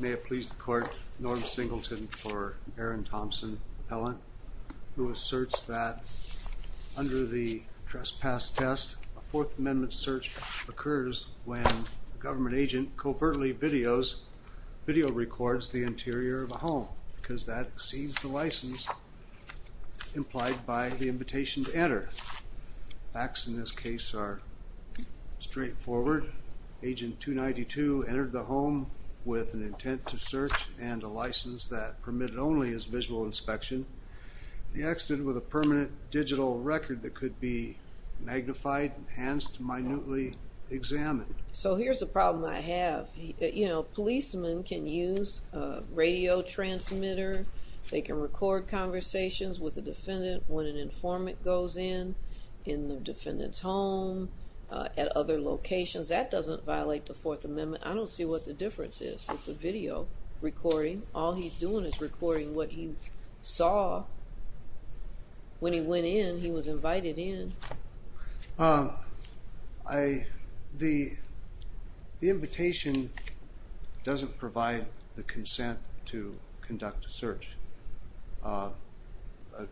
May it please the court, Norm Singleton for Aaron Thompson Appellant, who asserts that under the trespass test, a Fourth Amendment search occurs when a government agent covertly videos, video records the interior of a home because that exceeds the license implied by the invitation to enter. Facts in this case are straightforward. Agent 292 entered the home with an intent to search and a license that permitted only his visual inspection. He exited with a permanent digital record that could be magnified, enhanced, minutely examined. So here's a problem I have. You know, policemen can use a radio transmitter. They can record conversations with a defendant when an informant goes in, in the defendant's home, at other locations. That doesn't violate the Fourth Amendment. I don't see what the difference is with the video recording. All he's doing is recording what he saw when he went in, he was invited in. The invitation doesn't provide the consent to conduct a search. But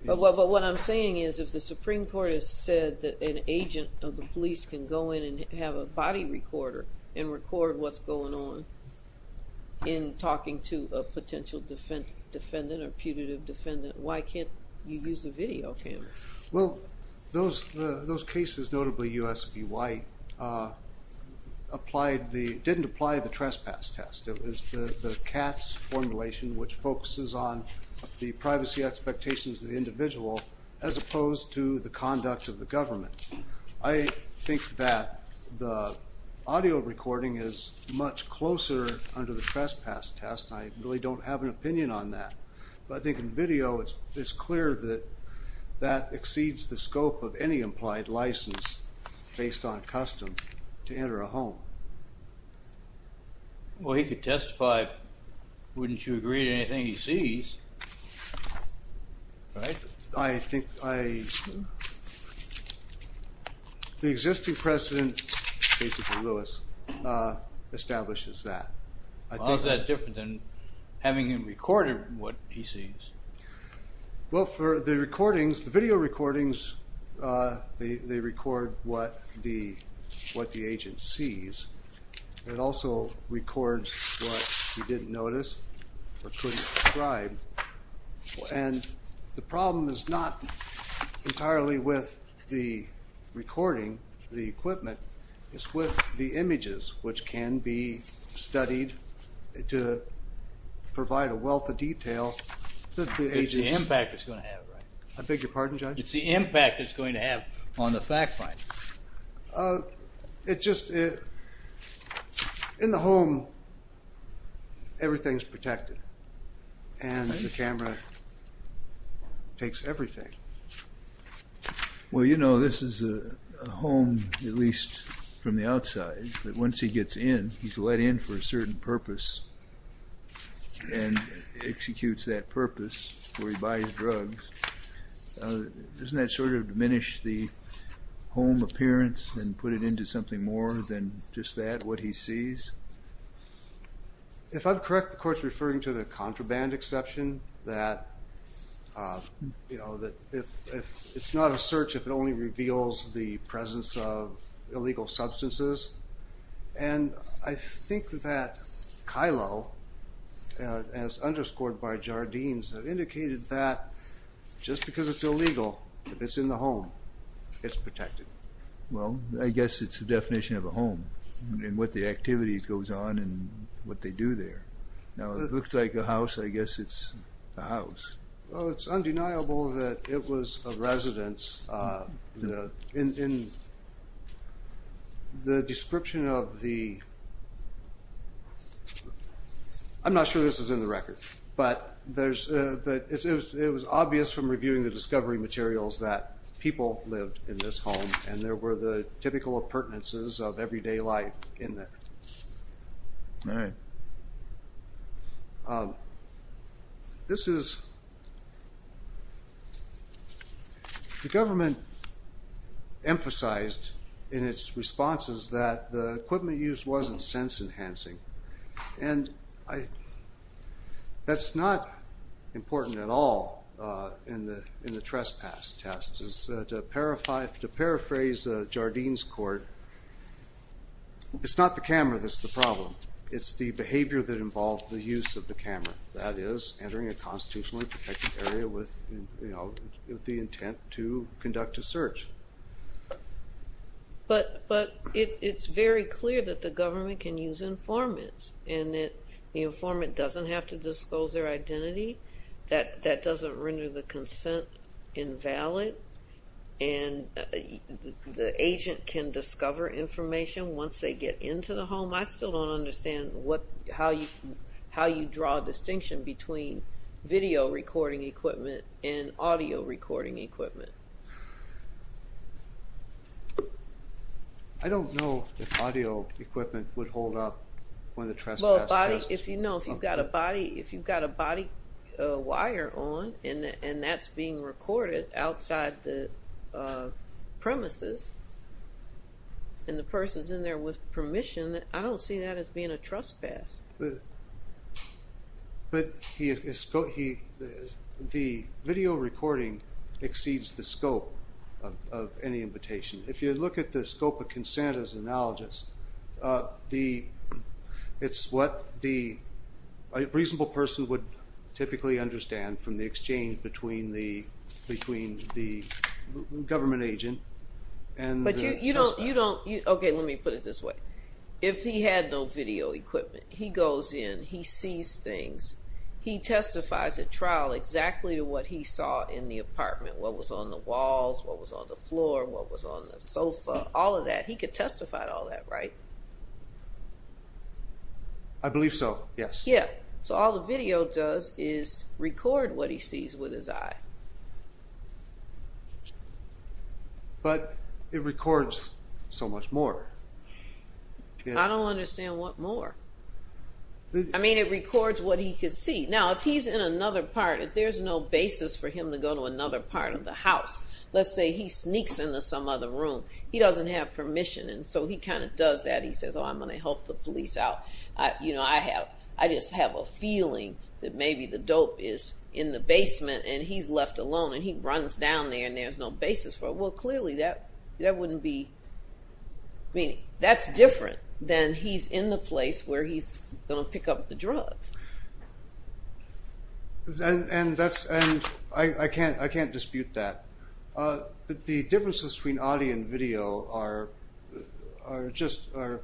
what I'm saying is, if the Supreme Court has said that an agent of the police can go in and have a body recorder and record what's going on in talking to a potential defendant or putative defendant, why can't you use a video camera? Well, those cases, notably US v. White, didn't apply the privacy expectations of the individual as opposed to the conduct of the government. I think that the audio recording is much closer under the trespass test. I really don't have an opinion on that. But I think in video it's clear that that exceeds the scope of any implied license based on custom to enter a home. Well, he could testify. Wouldn't you agree to anything he sees, right? I think the existing precedent, basically Lewis, establishes that. How is that different than having him recorded what he sees? Well, for the recordings, the video recordings, they record what the agent sees. It also records what he didn't notice or couldn't describe. And the problem is not entirely with the recording, the equipment, it's with the images which can be studied to provide a wealth of detail. It's the impact it's going to have, right? I beg your In the home, everything's protected. And the camera takes everything. Well, you know, this is a home, at least from the outside, that once he gets in, he's let in for a certain purpose and executes that purpose where he buys drugs. Doesn't that sort of diminish the home appearance and put it into something more than just that, what he sees? If I'm correct, the court's referring to the contraband exception that, you know, that if it's not a search, if it only reveals the presence of illegal substances. And I think that Kylo, as underscored by Jardines, indicated that just because it's illegal, if it's in the home, it's a definition of a home, and what the activity goes on and what they do there. Now, it looks like a house, I guess it's a house. Well, it's undeniable that it was a residence. In the description of the... I'm not sure this is in the record, but it was obvious from reviewing the discovery materials that people lived in this home and there were the typical appurtenances of everyday life in there. This is... The government emphasized in its responses that the equipment used wasn't sense-enhancing, and that's not important at all in the trespass test. To paraphrase Jardines' court, it's not the camera that's the problem, it's the behavior that involved the use of the camera, that is, entering a constitutionally protected area with the intent to conduct a search. But it's very clear that the government can use informants, and that the informant doesn't have to disclose their identity, that doesn't render the consent invalid, and the agent can discover information once they get into the home. I still don't understand what, how you draw a distinction between video recording equipment and audio recording equipment. I don't know if audio equipment would hold up when the trespass test... If you know, if you've got a body wire on and that's being recorded outside the premises, and the person's in there with permission, I don't see that as being a trespass. But the video recording exceeds the scope of any invitation. If you look at the scope of consent as analogous, it's what a reasonable person would typically understand from the exchange between the between the government agent and... But you don't, you don't, okay let me put it this way, if he had no video equipment, he goes in, he sees things, he testifies at trial exactly to what he saw in the apartment, what was on the walls, what was on the floor, what was on the sofa, all of that, he could testify to all that, right? I believe so, yes. Yeah, so all the video does is record what he sees with his eye. But it records so much more. I don't understand what more. I mean it records what he could see. Now if he's in another part, if there's no basis for him to go to another part of the house, let's say he sneaks into some other room, he doesn't have permission and so he kind of does that. He says, oh I'm gonna help the police out. You know, I have, I just have a feeling that maybe the dope is in the basement and he's left alone and he runs down there and there's no basis for it. Well clearly that, that wouldn't be, I mean that's different than he's in the place where he's gonna pick up the drugs. And that's, and I can't, I can't dispute that. But the differences between audio and video are, are just, are,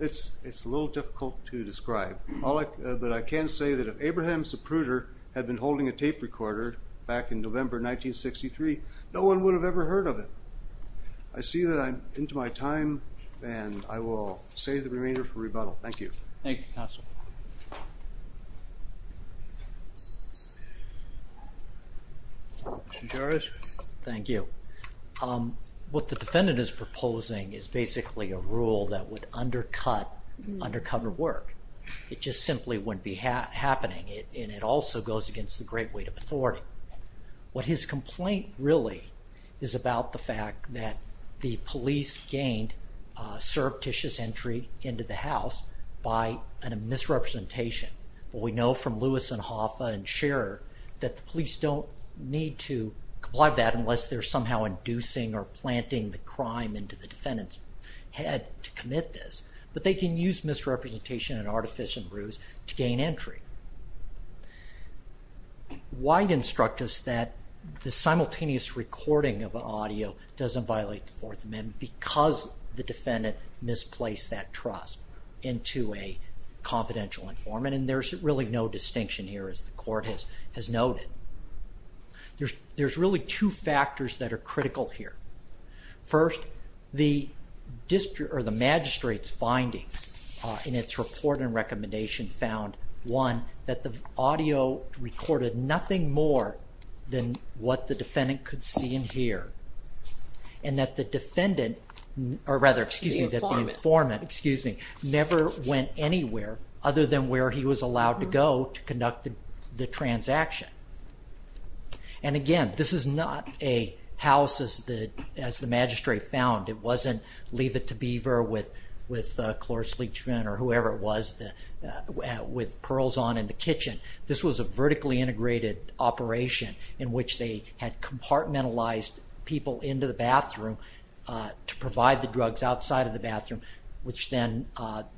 it's, it's a little difficult to describe. All I, but I can say that if Abraham Zapruder had been holding a tape recorder back in November 1963, no one would have ever heard of it. I see that I'm into my time and I will save the remainder for rebuttal. Thank you. Thank you, Counselor. Judge? Thank you. What the defendant is proposing is basically a rule that would undercut undercover work. It just simply wouldn't be happening and it also goes against the great weight of authority. What his complaint really is about the fact that the police gained surreptitious entry into the house by a misrepresentation. Well we know from Lewis and Hoffa and Scherer that the police don't need to comply with that unless they're somehow inducing or planting the crime into the defendant's head to commit this. But they can use misrepresentation and artificial bruise to gain entry. Why instruct us that the simultaneous recording of audio doesn't violate the Fourth Amendment? Because the and there's really no distinction here as the court has noted. There's really two factors that are critical here. First, the magistrate's findings in its report and recommendation found, one, that the audio recorded nothing more than what the defendant could see and hear and that the defendant, or rather the informant, never went anywhere other than where he was allowed to go to conduct the transaction. And again, this is not a house as the magistrate found. It wasn't leave it to beaver with with Chloris Leachman or whoever it was with pearls on in the kitchen. This was a vertically integrated operation in which they had compartmentalized people into the bathroom to provide the drugs outside of the bathroom, which then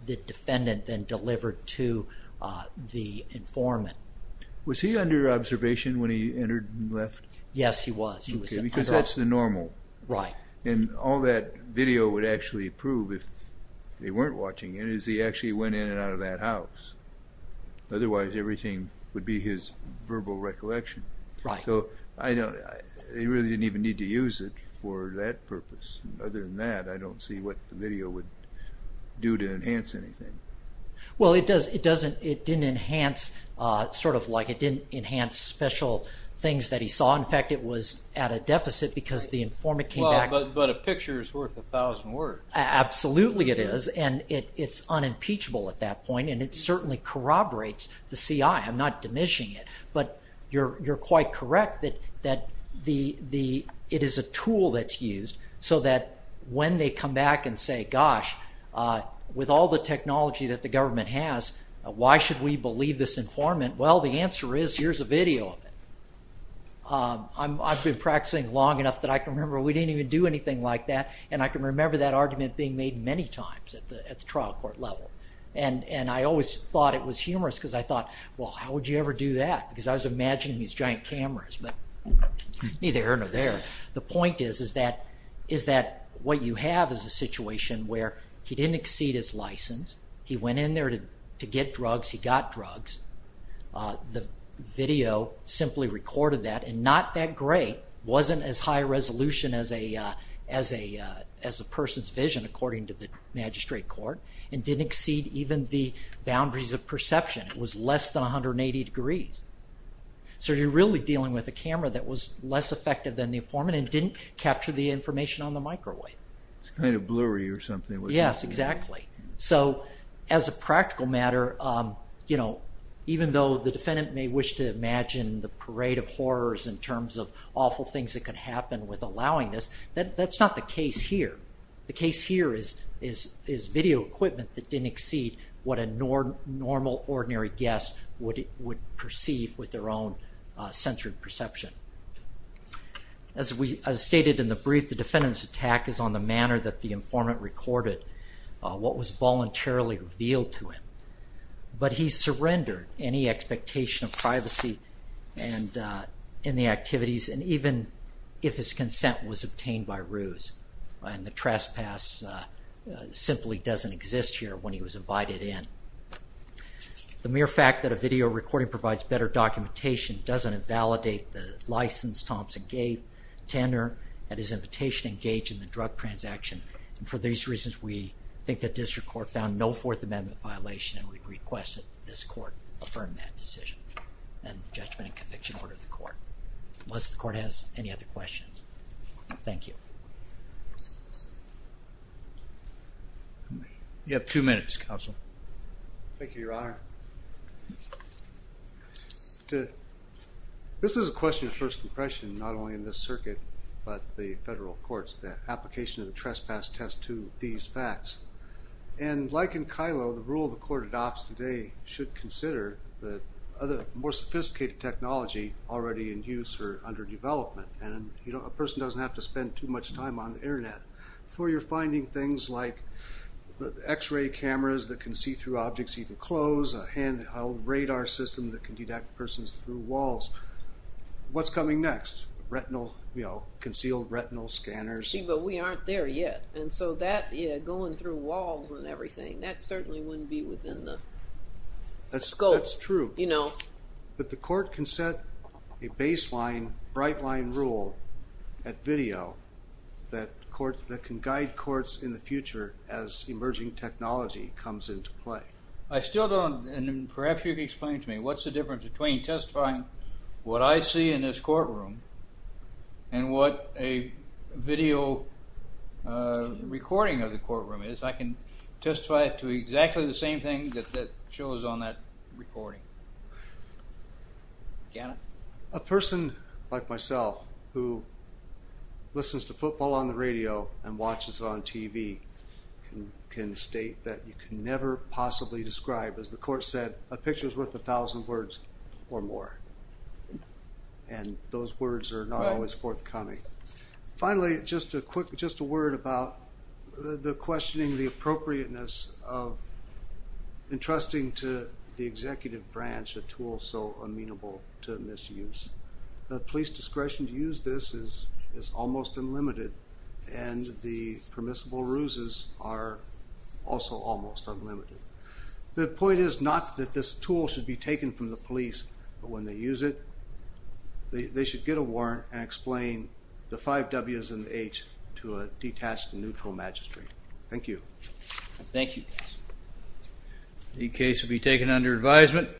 the defendant then delivered to the informant. Was he under observation when he entered and left? Yes, he was. Because that's the normal. Right. And all that video would actually prove if they weren't watching it is he actually went in and out of that house. Otherwise everything would be his verbal recollection. Right. So I know they really didn't even need to use it for that purpose. Other than that I don't see what the video would do to enhance anything. Well, it doesn't, it didn't enhance, sort of like it didn't enhance special things that he saw. In fact, it was at a deficit because the informant came back. But a picture is worth a thousand words. Absolutely it is and it's unimpeachable at that point and it certainly corroborates the CI. I'm not diminishing it, but you're quite correct that it is a tool that's used so that when they come back and say, gosh, with all the technology that the government has, why should we believe this informant? Well, the answer is here's a video of it. I've been practicing long enough that I can remember we didn't even do anything like that and I can remember that argument being made many times at the trial court level. And I always thought it was humorous because I thought, well, how would you ever do that? Because I was imagining these giant cameras, but neither here nor there. The point is is that what you have is a situation where he didn't exceed his license, he went in there to get drugs, he got drugs. The video simply recorded that and not that great, wasn't as high resolution as a person's vision according to the magistrate court, and didn't exceed even the boundaries of perception. It was less than 180 degrees. So you're really dealing with a camera that was less effective than the informant and didn't capture the information on the microwave. It's kind of blurry or something. Yes, exactly. So as a practical matter, you know, even though the defendant may wish to imagine the parade of horrors in terms of awful things that could happen with allowing this, that's not the case here. The case here is video equipment that didn't exceed what a normal ordinary guest would perceive with their own censored perception. As stated in the brief, the defendant's attack is on the manner that the informant recorded what was voluntarily revealed to him, but he surrendered any expectation of privacy and in the activities and even if his consent was obtained by ruse, and trespass simply doesn't exist here when he was invited in. The mere fact that a video recording provides better documentation doesn't invalidate the license Thompson gave Tanner at his invitation engaged in the drug transaction, and for these reasons we think that district court found no Fourth Amendment violation and we request that this court affirm that decision and judgment and conviction order the court. Unless the court has any questions. Thank you. You have two minutes, counsel. Thank you, Your Honor. This is a question of first impression not only in this circuit but the federal courts, the application of the trespass test to these facts and like in Kylo, the rule the court adopts today should consider that other more sophisticated technology already in use or under development and you know a person doesn't have to spend too much time on the internet before you're finding things like the x-ray cameras that can see through objects even clothes, a handheld radar system that can detect persons through walls. What's coming next? Retinal, you know, concealed retinal scanners. See, but we aren't there yet and so that, yeah, going through walls and everything that certainly wouldn't be That's true, you know, but the court can set a baseline bright line rule at video that court that can guide courts in the future as emerging technology comes into play. I still don't, and perhaps you can explain to me, what's the difference between testifying what I see in this courtroom and what a video recording of the courtroom is. I can testify to exactly the same thing that that shows on that recording. Gannon? A person like myself who listens to football on the radio and watches it on TV can state that you can never possibly describe, as the court said, a picture is worth a thousand words or more and those words are not always forthcoming. Finally, just a quick, just a word about the questioning, the appropriateness of entrusting to the executive branch a tool so amenable to misuse. The police discretion to use this is almost unlimited and the permissible ruses are also almost unlimited. The point is not that this tool should be taken from the police, but when they use it they should get a chance to explain the five W's and the H's to a detached and neutral magistrate. Thank you. Thank you. The case will be taken under advisement.